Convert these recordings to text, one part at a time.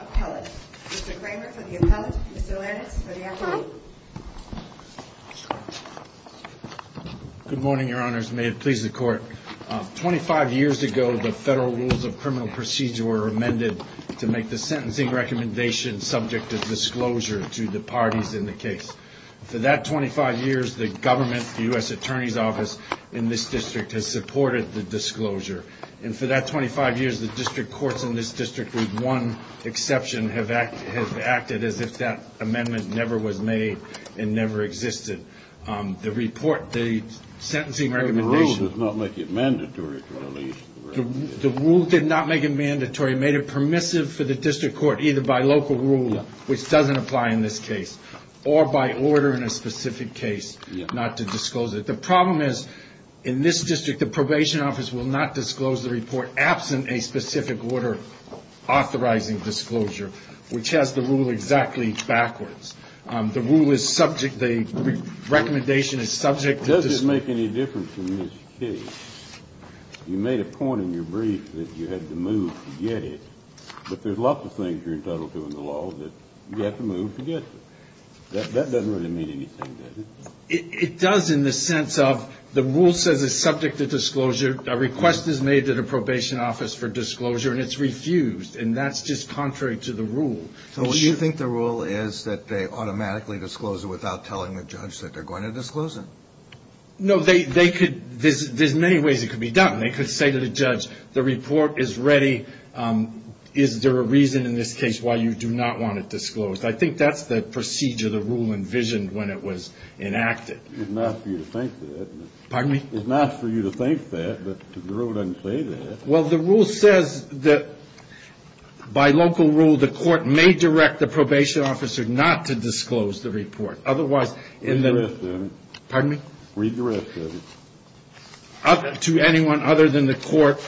appellate. Mr. Kramer for the appellate. Mr. Lannis for the appellate. Good morning, your honors. May it please the court. Twenty-five years ago, the federal rules of criminal procedure were amended to make the sentencing recommendation subject to disclosure to the parties in the case. For that 25 years, the government, the U.S. Attorney's Office in this district has supported the disclosure. And for that 25 years, the district courts in this district, with one exception, have acted as if that amendment never was made and never existed. The report, the sentencing recommendation. The rule did not make it mandatory. The rule did not make it mandatory. It made it permissive for the district court either by local rule, which doesn't apply in this case, or by order in a specific case not to disclose it. But the problem is, in this district, the probation office will not disclose the report absent a specific order authorizing disclosure, which has the rule exactly backwards. The rule is subject, the recommendation is subject to disclosure. Does this make any difference in this case? You made a point in your brief that you had to move to get it, but there's lots of things you're entitled to in the law that you have to move to get it. That doesn't really mean anything, does it? It does in the sense of the rule says it's subject to disclosure. A request is made to the probation office for disclosure, and it's refused. And that's just contrary to the rule. So you think the rule is that they automatically disclose it without telling the judge that they're going to disclose it? No, they could – there's many ways it could be done. They could say to the judge, the report is ready. Is there a reason in this case why you do not want it disclosed? I think that's the procedure the rule envisioned when it was enacted. It's not for you to think that. Pardon me? It's not for you to think that, but the rule doesn't say that. Well, the rule says that by local rule, the court may direct the probation officer not to disclose the report. Otherwise, in the – Read the rest of it. Pardon me? Read the rest of it. To anyone other than the court,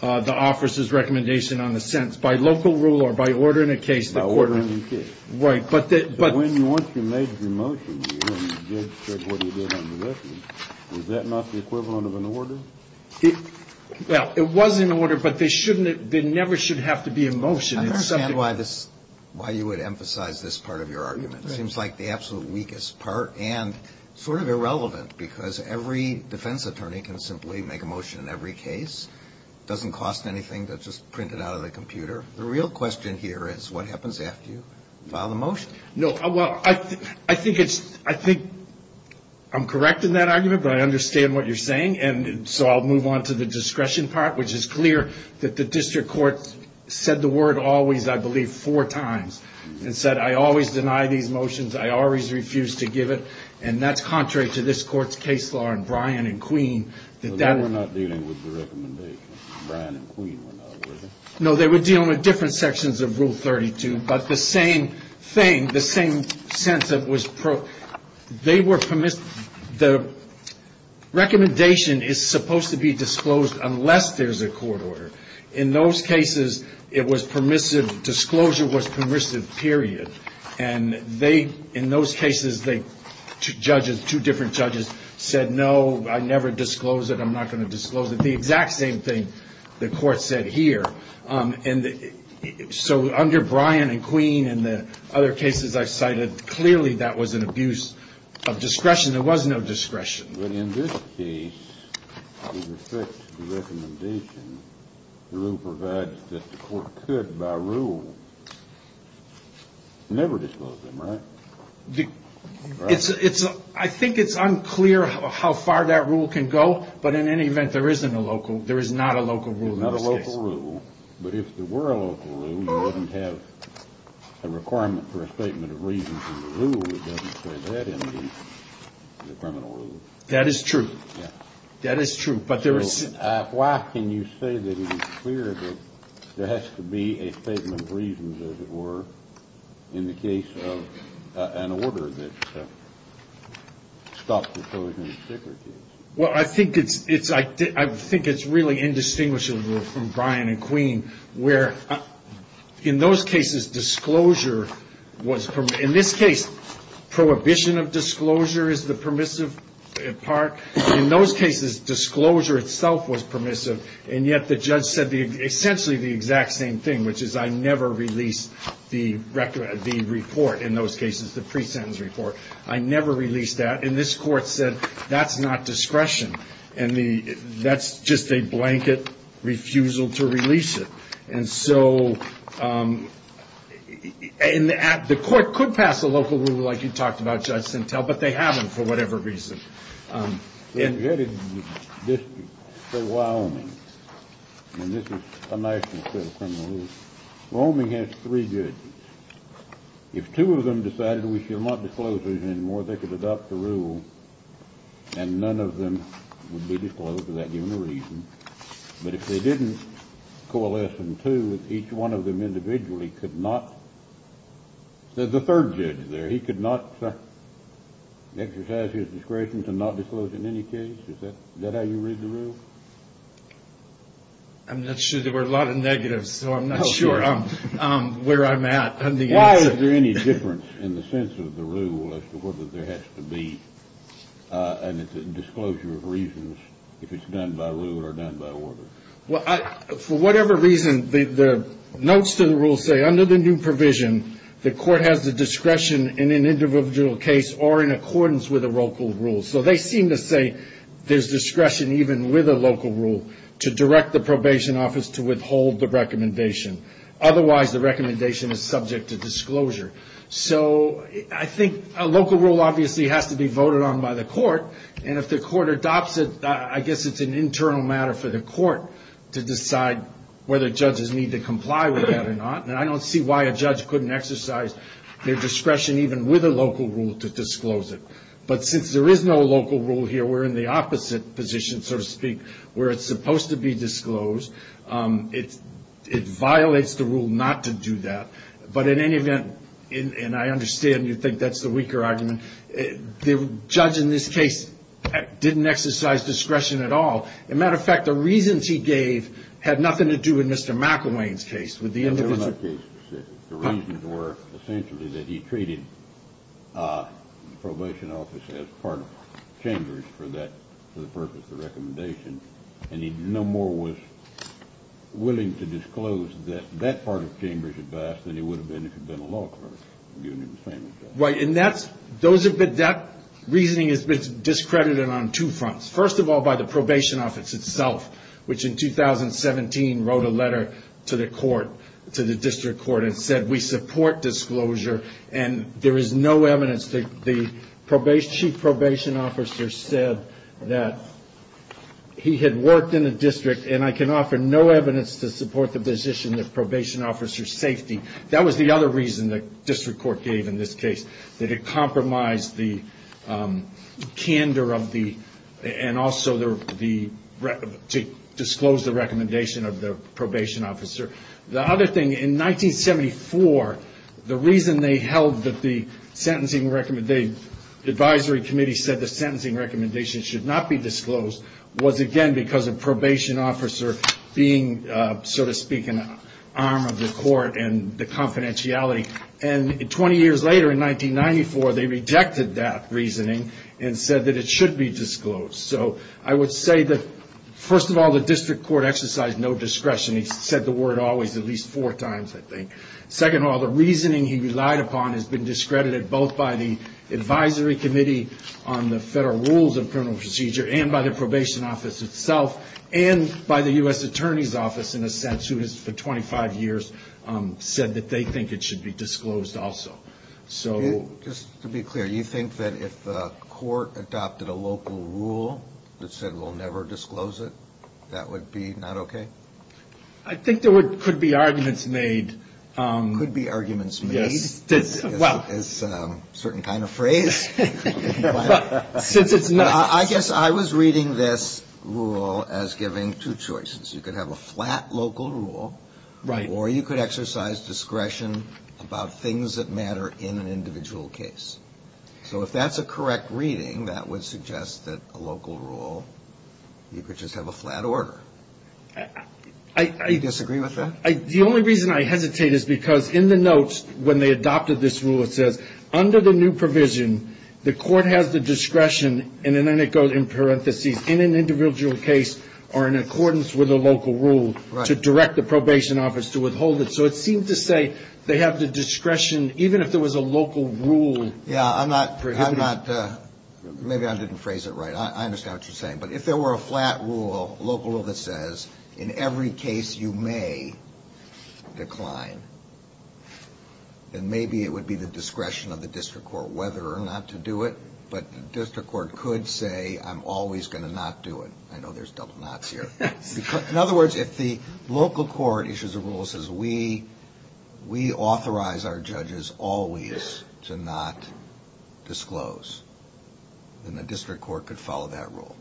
the officer's recommendation on the sentence. By local rule or by order in a case, the court – By order in a case. Right, but – But when you – once you made your motion, and the judge said what he did on the record, was that not the equivalent of an order? Well, it was an order, but they shouldn't – there never should have to be a motion. I understand why this – why you would emphasize this part of your argument. Right. It seems like the absolute weakest part, and sort of irrelevant, because every defense attorney can simply make a motion in every case. It doesn't cost anything. That's just printed out of the computer. The real question here is, what happens after you file the motion? No, well, I think it's – I think I'm correct in that argument, but I understand what you're saying. And so I'll move on to the discretion part, which is clear that the district court said the word always, I believe, four times. And said, I always deny these motions. I always refuse to give it. And that's contrary to this court's case law in Bryan and Queen. They were not dealing with the recommendation. Bryan and Queen were not, were they? No, they were dealing with different sections of Rule 32. But the same thing, the same sense that was – they were – the recommendation is supposed to be disclosed unless there's a court order. In those cases, it was permissive – disclosure was permissive, period. And they – in those cases, they – two judges, two different judges said, no, I never disclose it. I'm not going to disclose it. The exact same thing the court said here. And so under Bryan and Queen and the other cases I've cited, clearly that was an abuse of discretion. There was no discretion. But in this case, with respect to the recommendation, the rule provides that the court could, by rule, never disclose them, right? It's – I think it's unclear how far that rule can go, but in any event, there isn't a local – there is not a local rule in this case. It's a local rule, but if there were a local rule, you wouldn't have a requirement for a statement of reasons in the rule. It doesn't say that in the criminal rule. That is true. Yeah. That is true. But there is – So why can you say that it is clear that there has to be a statement of reasons, as it were, in the case of an order that stopped disclosure in the Sticker case? Well, I think it's – I think it's really indistinguishable from Bryan and Queen where, in those cases, disclosure was – in this case, prohibition of disclosure is the permissive part. In those cases, disclosure itself was permissive, and yet the judge said essentially the exact same thing, which is I never released the report, in those cases, the pre-sentence report. I never released that. And this court said that's not discretion. And that's just a blanket refusal to release it. And so – and the court could pass a local rule like you talked about, Judge Sintel, but they haven't for whatever reason. In Jettison District, say Wyoming, and this is a national criminal rule, Wyoming has three judges. If two of them decided we should not disclose these anymore, they could adopt the rule and none of them would be disclosed without giving a reason. But if they didn't coalesce in two, each one of them individually could not – there's a third judge there. He could not exercise his discretion to not disclose in any case. I'm not sure. There were a lot of negatives, so I'm not sure where I'm at on the answer. Why is there any difference in the sense of the rule as to whether there has to be a disclosure of reasons if it's done by rule or done by order? Well, for whatever reason, the notes to the rule say under the new provision, the court has the discretion in an individual case or in accordance with a local rule. So they seem to say there's discretion even with a local rule to direct the probation office to withhold the recommendation. Otherwise, the recommendation is subject to disclosure. So I think a local rule obviously has to be voted on by the court. And if the court adopts it, I guess it's an internal matter for the court to decide whether judges need to comply with that or not. And I don't see why a judge couldn't exercise their discretion even with a local rule to disclose it. But since there is no local rule here, we're in the opposite position, so to speak, where it's supposed to be disclosed. It violates the rule not to do that. But in any event, and I understand you think that's the weaker argument, the judge in this case didn't exercise discretion at all. As a matter of fact, the reasons he gave had nothing to do with Mr. McElwain's case. The reasons were essentially that he treated the probation office as part of Chambers for that, for the purpose of the recommendation. And he no more was willing to disclose that that part of Chambers' advice than he would have been if he'd been a law clerk. Right. And that's, those have been, that reasoning has been discredited on two fronts. First of all, by the probation office itself, which in 2017 wrote a letter to the court, to the district court, and said, we support disclosure and there is no evidence that the chief probation officer said that he had worked in the district and I can offer no evidence to support the position that probation officer safety. That was the other reason the district court gave in this case. That it compromised the candor of the, and also the, to disclose the recommendation of the probation officer. The other thing, in 1974, the reason they held that the sentencing recommendation, the advisory committee said the sentencing recommendation should not be disclosed, was again because of probation officer being, so to speak, an arm of the court and the confidentiality. And 20 years later, in 1994, they rejected that reasoning and said that it should be disclosed. So I would say that, first of all, the district court exercised no discretion. He said the word always at least four times, I think. Second of all, the reasoning he relied upon has been discredited both by the advisory committee on the federal rules of criminal procedure and by the probation office itself and by the U.S. attorney's office, in a sense, who has for 25 years said that they think it should be disclosed also. So just to be clear, you think that if the court adopted a local rule that said we'll never disclose it, that would be not okay? I think there could be arguments made. Could be arguments made? Yes. Well. It's a certain kind of phrase. Since it's not. I guess I was reading this rule as giving two choices. You could have a flat local rule. Right. Or you could exercise discretion about things that matter in an individual case. So if that's a correct reading, that would suggest that a local rule, you could just have a flat order. Do you disagree with that? The only reason I hesitate is because in the notes, when they adopted this rule, it says, under the new provision, the court has the discretion, and then it goes in parentheses, in an individual case or in accordance with a local rule. Right. To direct the probation office to withhold it. So it seems to say they have the discretion, even if there was a local rule. Yeah. I'm not. I'm not. Maybe I didn't phrase it right. I understand what you're saying. But if there were a flat rule, a local rule that says, in every case you may decline, then maybe it would be the discretion of the district court whether or not to do it. But the district court could say, I'm always going to not do it. I know there's double nots here. In other words, if the local court issues a rule that says, we authorize our judges always to not disclose, then the district court could follow that rule.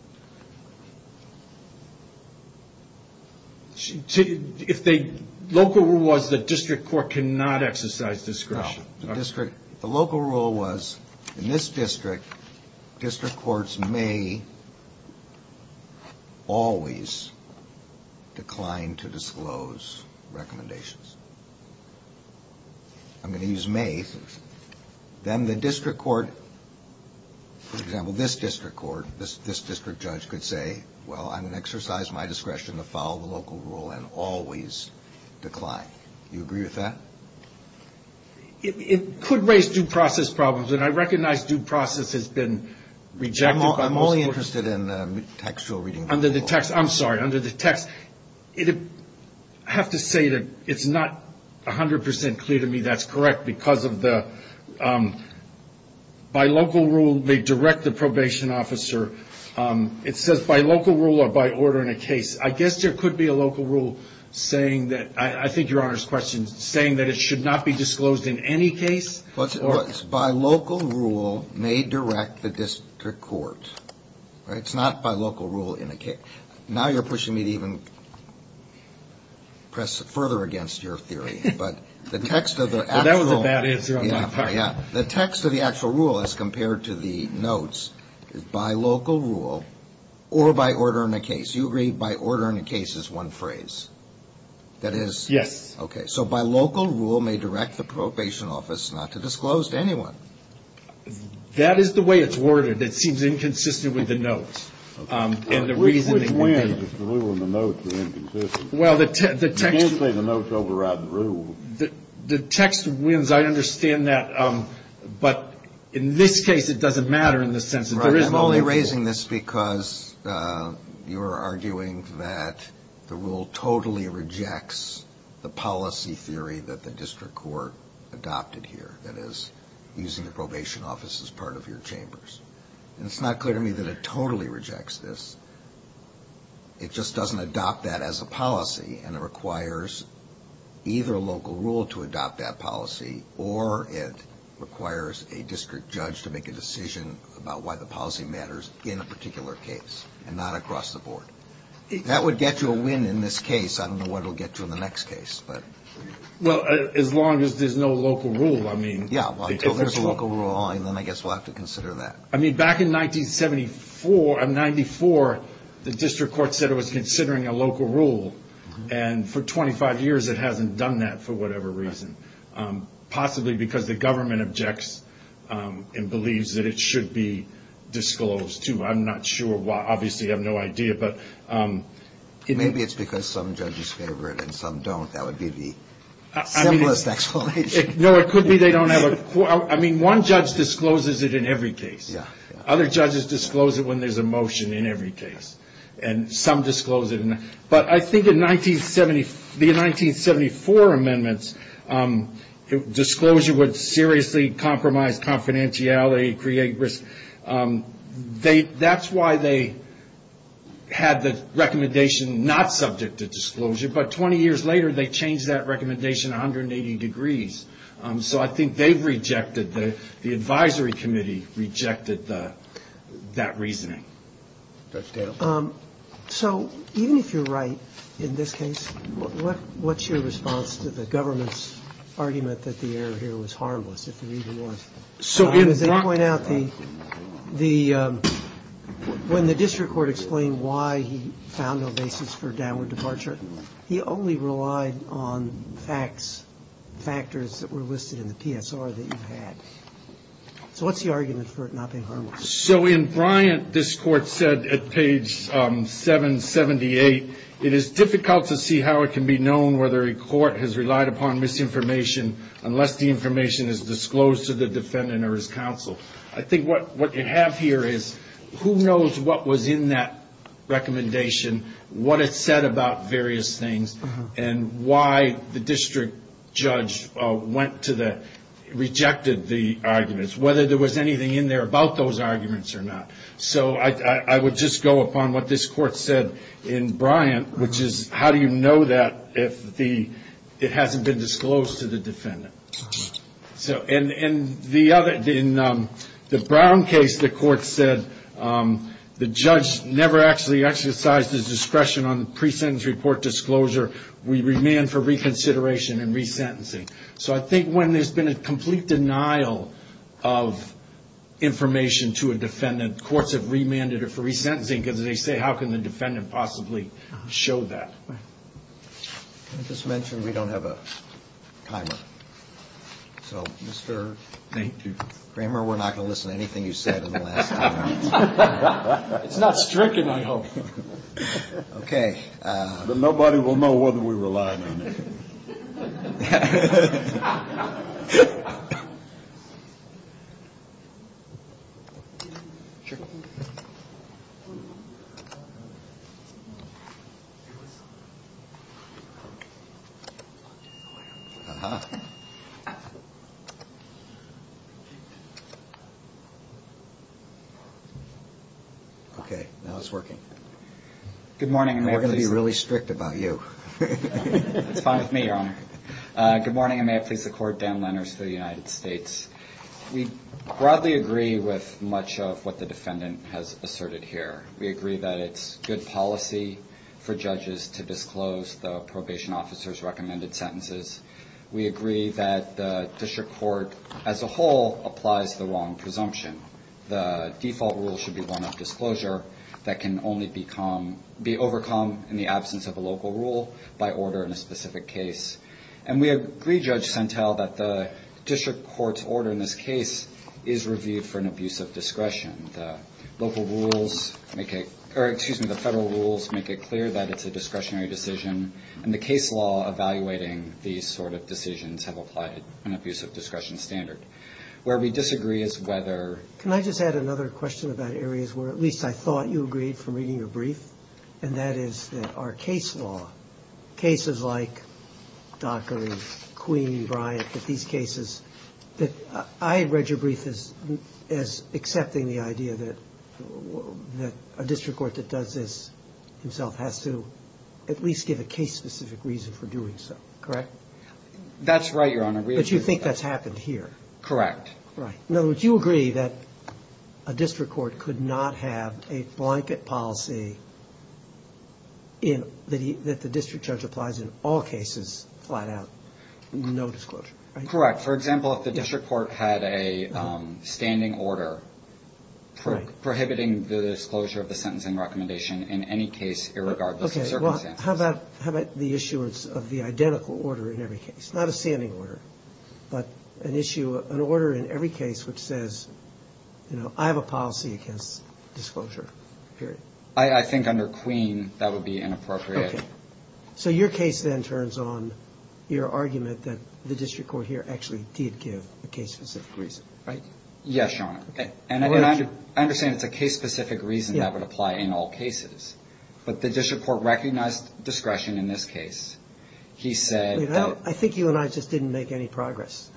If the local rule was the district court cannot exercise discretion. No. The local rule was, in this district, district courts may always decline to disclose recommendations. I'm going to use may. If the local rule was the district court and the district court could say, I'm going to exercise my discretion to follow the local rule and always decline, then the district court, for example, this district court, this district judge could say, well, I'm going to exercise my discretion to follow the local rule and always decline. Do you agree with that? It could raise due process problems. And I recognize due process has been rejected. I'm only interested in textual reading. Under the text. I'm sorry. Under the text. I have to say that it's not 100% clear to me that's correct because of the by local rule may direct the probation officer. It says by local rule or by order in a case. I guess there could be a local rule saying that I think your Honor's question is saying that it should not be disclosed in any case. By local rule may direct the district court. It's not by local rule in a case. Okay. Now you're pushing me to even press further against your theory. But the text of the actual. That was a bad answer on my part. Yeah. The text of the actual rule as compared to the notes is by local rule or by order in a case. You agree by order in a case is one phrase. That is. Yes. Okay. So by local rule may direct the probation office not to disclose to anyone. That is the way it's worded. It seems inconsistent with the notes. And the reason. The rule and the notes are inconsistent. Well, the text. You can't say the notes override the rule. The text wins. I understand that. But in this case, it doesn't matter in the sense that there is. Right. I'm only raising this because you are arguing that the rule totally rejects the policy theory that the district court adopted here. That is using the probation office as part of your chambers. And it's not clear to me that it totally rejects this. It just doesn't adopt that as a policy. And it requires either a local rule to adopt that policy. Or it requires a district judge to make a decision about why the policy matters in a particular case and not across the board. That would get you a win in this case. I don't know what it will get you in the next case. Well, as long as there's no local rule, I mean. Yeah. Well, if there's a local rule, then I guess we'll have to consider that. I mean, back in 1974, I'm 94. The district court said it was considering a local rule. And for 25 years, it hasn't done that for whatever reason, possibly because the government objects and believes that it should be disclosed to. I'm not sure why. Obviously, I have no idea. But maybe it's because some judges favor it and some don't. That would be the simplest explanation. No, it could be they don't have a. I mean, one judge discloses it in every case. Other judges disclose it when there's a motion in every case. And some disclose it. But I think in the 1974 amendments, disclosure would seriously compromise confidentiality, create risk. That's why they had the recommendation not subject to disclosure. But 20 years later, they changed that recommendation 180 degrees. So I think they've rejected the advisory committee, rejected that reasoning. So even if you're right in this case, what's your response to the government's argument that the error here was harmless? So as I point out, the when the district court explained why he found no basis for downward departure, he only relied on facts, factors that were listed in the PSR that you had. So what's the argument for it not being harmless? So in Bryant, this court said at page 778, it is difficult to see how it can be known whether a court has relied upon misinformation unless the information is disclosed to the defendant or his counsel. I think what you have here is who knows what was in that recommendation, what it said about various things, and why the district judge went to the rejected the arguments, whether there was anything in there about those arguments or not. So I would just go upon what this court said in Bryant, which is how do you know that if it hasn't been disclosed to the defendant? So in the Brown case, the court said the judge never actually exercised his discretion on the pre-sentence report disclosure. We remain for reconsideration and resentencing. So I think when there's been a complete denial of information to a defendant, courts have remanded it for resentencing because they say, how can the defendant possibly show that? I just mentioned we don't have a timer. So, Mr. Kramer, we're not going to listen to anything you said in the last ten hours. It's not stricken, I hope. Okay. But nobody will know whether we relied on it. Okay. Okay, now it's working. Good morning. We're going to be really strict about you. It's fine with me, Your Honor. Good morning, and may I please support Dan Lenners for the United States. We broadly agree with much of what the defendant has asserted here. We agree that it's good policy for judges to disclose the probation officer's recommended sentences. We agree that the district court as a whole applies the wrong presumption. The default rule should be one of disclosure that can only be overcome in the absence of a local rule by order in a specific case. And we agree, Judge Sentell, that the district court's order in this case is reviewed for an abuse of discretion. The federal rules make it clear that it's a discretionary decision, and the case law evaluating these sort of decisions have applied an abuse of discretion standard. Where we disagree is whether. Can I just add another question about areas where at least I thought you agreed from reading your brief, and that is that our case law, cases like Dockery, Queen, Bryant, that these cases that I read your brief as accepting the idea that a district court that does this himself has to at least give a case-specific reason for doing so. Correct? That's right, Your Honor. But you think that's happened here? Correct. Right. In other words, you agree that a district court could not have a blanket policy that the district judge applies in all cases flat out, no disclosure. Correct. For example, if the district court had a standing order prohibiting the disclosure of the sentencing recommendation in any case, irregardless of circumstances. How about the issuance of the identical order in every case? Not a standing order, but an issue, an order in every case which says, you know, I have a policy against disclosure, period. I think under Queen, that would be inappropriate. Okay. So your case then turns on your argument that the district court here actually did give a case-specific reason, right? Yes, Your Honor. Okay. And I understand it's a case-specific reason that would apply in all cases. But the district court recognized discretion in this case. He said that you know, I think you and I just didn't make any progress.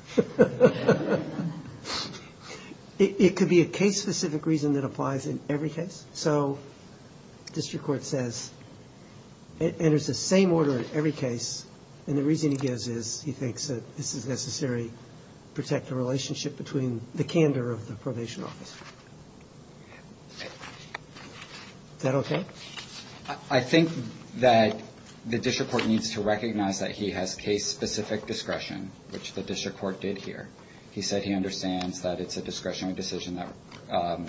It could be a case-specific reason that applies in every case. So district court says it enters the same order in every case. And the reason he gives is he thinks that this is necessary to protect the relationship between the candor of the probation office. Is that okay? I think that the district court needs to recognize that he has case-specific discretion, which the district court did here. He said he understands that it's a discretionary decision that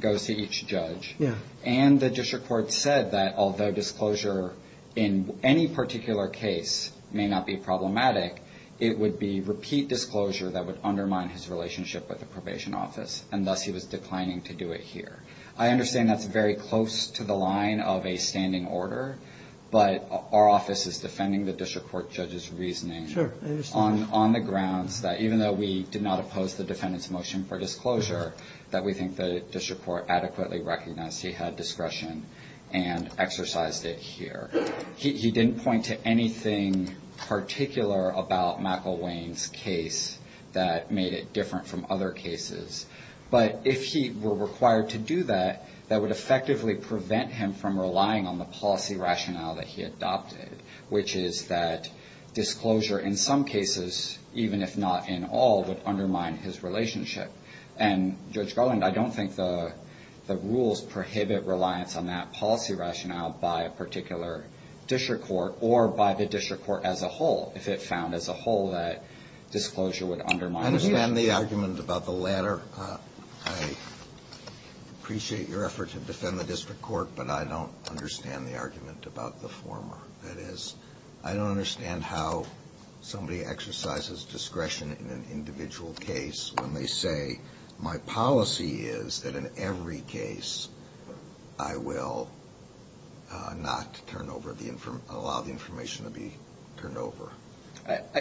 goes to each judge. Yeah. And the district court said that although disclosure in any particular case may not be problematic, it would be repeat disclosure that would undermine his relationship with the probation office, and thus he was declining to do it here. I understand that's very close to the line of a standing order, but our office is defending the district court judge's reasoning. Sure. I understand. On the grounds that even though we did not oppose the defendant's motion for disclosure, that we think the district court adequately recognized he had discretion and exercised it here. He didn't point to anything particular about McIlwain's case that made it different from other cases. But if he were required to do that, that would effectively prevent him from relying on the policy rationale that he adopted, which is that disclosure in some cases, even if not in all, would undermine his relationship. And, Judge Garland, I don't think the rules prohibit reliance on that policy rationale by a particular district court or by the district court as a whole if it found as a whole that disclosure would undermine his relationship. I understand the argument about the latter. I appreciate your effort to defend the district court, but I don't understand the argument about the former. That is, I don't understand how somebody exercises discretion in an individual case when they say, my policy is that in every case I will not allow the information to be turned over.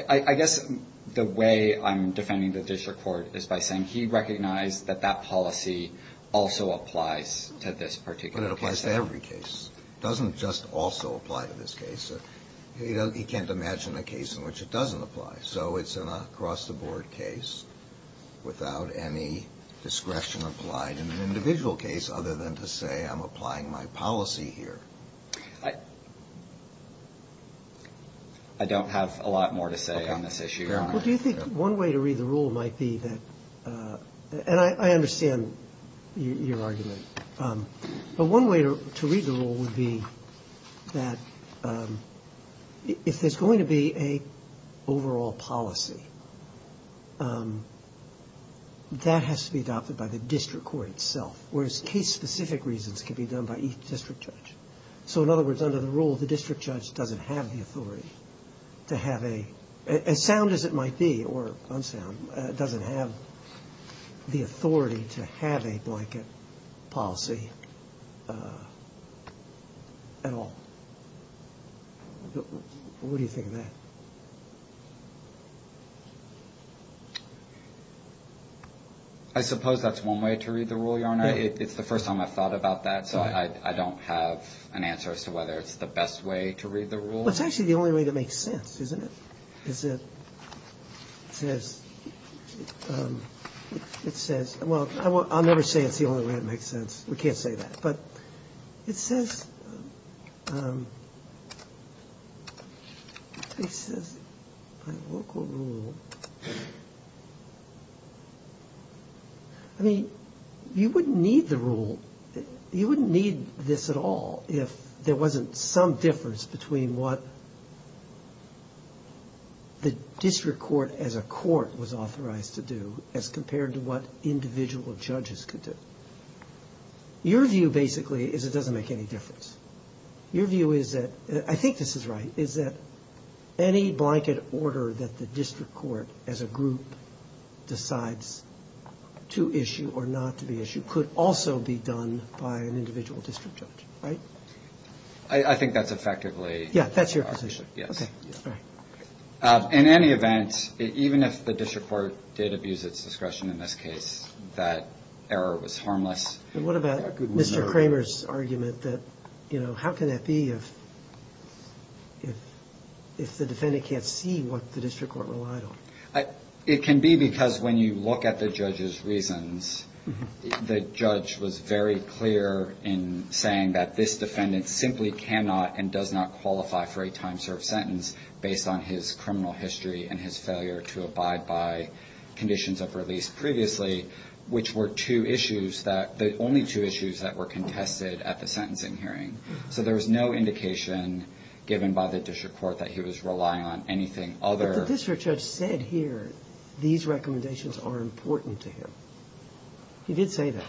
I guess the way I'm defending the district court is by saying he recognized that that policy also applies to this particular case. But it applies to every case. It doesn't just also apply to this case. He can't imagine a case in which it doesn't apply. So it's an across-the-board case without any discretion applied in an individual case other than to say I'm applying my policy here. I don't have a lot more to say on this issue, Your Honor. Well, do you think one way to read the rule might be that – and I understand your argument. But one way to read the rule would be that if there's going to be an overall policy, that has to be adopted by the district court itself, whereas case-specific reasons can be done by each district judge. So in other words, under the rule, the district judge doesn't have the authority to have a – as sound as it might be or unsound, doesn't have the authority to have a blanket policy at all. What do you think of that? I suppose that's one way to read the rule, Your Honor. It's the first time I've thought about that, so I don't have an answer as to whether it's the best way to read the rule. Well, it's actually the only way that makes sense, isn't it? It says – well, I'll never say it's the only way that makes sense. We can't say that. But it says – it says by local rule – I mean, you wouldn't need the rule. You wouldn't need this at all if there wasn't some difference between what the district court as a court was authorized to do as compared to what individual judges could do. Your view basically is it doesn't make any difference. Your view is that – I think this is right – is that any blanket order that the district court as a group decides to issue or not to be issued could also be done by an individual district judge, right? I think that's effectively – Yeah, that's your position. Yes. Okay. All right. In any event, even if the district court did abuse its discretion in this case, that error was harmless. What about Mr. Kramer's argument that, you know, how can that be if the defendant can't see what the district court relied on? It can be because when you look at the judge's reasons, the judge was very clear in saying that this defendant simply cannot and does not qualify for a time-served sentence based on his criminal history and his failure to abide by conditions of release previously, which were two issues that – the only two issues that were contested at the sentencing hearing. So there was no indication given by the district court that he was relying on anything other – The district judge said here these recommendations are important to him. He did say that.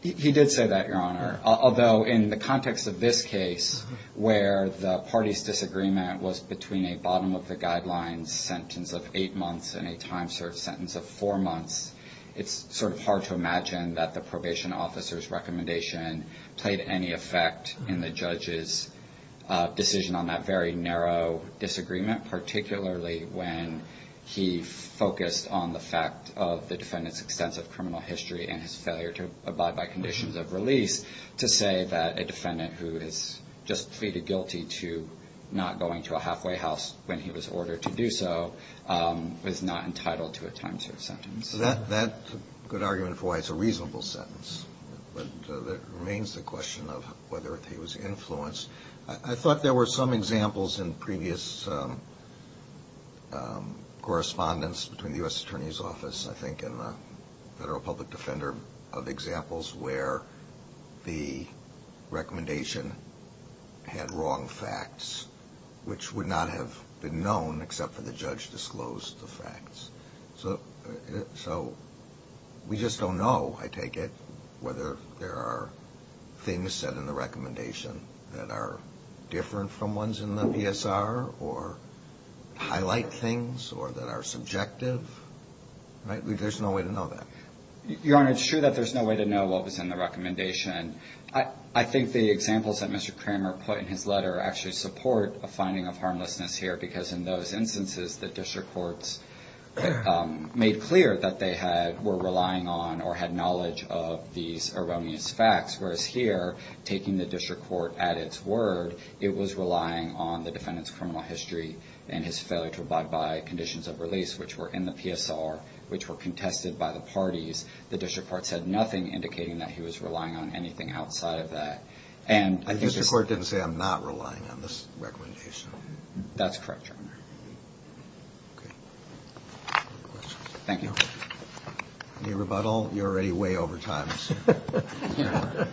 He did say that, Your Honor, although in the context of this case where the party's disagreement was between a bottom-of-the-guidelines sentence of eight months and a time-served sentence of four months, it's sort of hard to imagine that the probation officer's recommendation played any effect in the judge's decision on that very narrow disagreement, particularly when he focused on the fact of the defendant's extensive criminal history and his failure to abide by conditions of release to say that a defendant who has just pleaded guilty to not going to a halfway house when he was ordered to do so was not entitled to a time-served sentence. That's a good argument for why it's a reasonable sentence. But that remains the question of whether he was influenced. I thought there were some examples in previous correspondence between the U.S. Attorney's Office, I think, and the Federal Public Defender of examples where the recommendation had wrong facts, which would not have been known except for the judge disclosed the facts. So we just don't know, I take it, whether there are things said in the recommendation that are different from ones in the PSR or highlight things or that are subjective, right? There's no way to know that. Your Honor, it's true that there's no way to know what was in the recommendation. I think the examples that Mr. Kramer put in his letter actually support a finding of harmlessness here because in those instances, the district courts made clear that they were relying on or had knowledge of these erroneous facts, whereas here, taking the district court at its word, it was relying on the defendant's criminal history and his failure to abide by conditions of release, which were in the PSR, which were contested by the parties. The district court said nothing, indicating that he was relying on anything outside of that. The district court didn't say, I'm not relying on this recommendation. That's correct, Your Honor. Thank you. Any rebuttal? You're already way over time.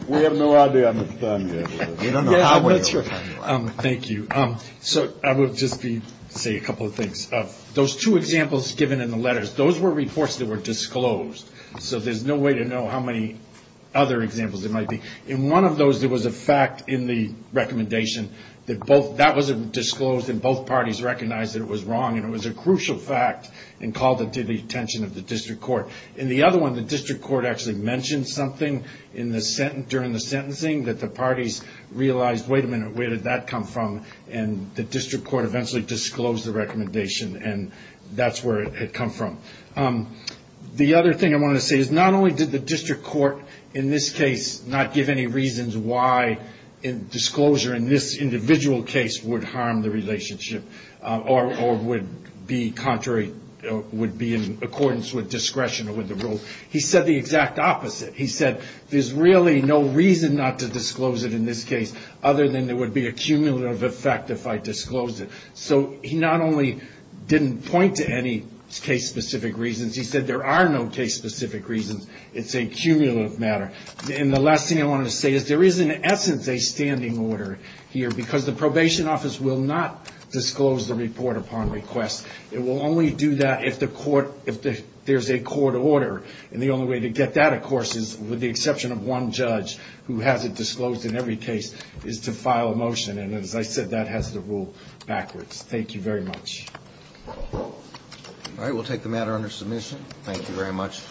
We have no idea how much time we have. Thank you. So I will just say a couple of things. Those two examples given in the letters, those were reports that were disclosed, so there's no way to know how many other examples there might be. In one of those, there was a fact in the recommendation that that wasn't disclosed and both parties recognized that it was wrong, and it was a crucial fact and called it to the attention of the district court. In the other one, the district court actually mentioned something during the sentencing that the parties realized, wait a minute, where did that come from? And the district court eventually disclosed the recommendation, and that's where it had come from. The other thing I wanted to say is not only did the district court, in this case, not give any reasons why disclosure in this individual case would harm the relationship or would be in accordance with discretion or with the rule, he said the exact opposite. He said there's really no reason not to disclose it in this case other than there would be a cumulative effect if I disclosed it. So he not only didn't point to any case-specific reasons. He said there are no case-specific reasons. It's a cumulative matter. And the last thing I wanted to say is there is, in essence, a standing order here because the probation office will not disclose the report upon request. It will only do that if there's a court order, and the only way to get that, of course, is with the exception of one judge who has it disclosed in every case is to file a motion, and as I said, that has to rule backwards. Thank you very much. Roberts. All right. We'll take the matter under submission. Thank you very much.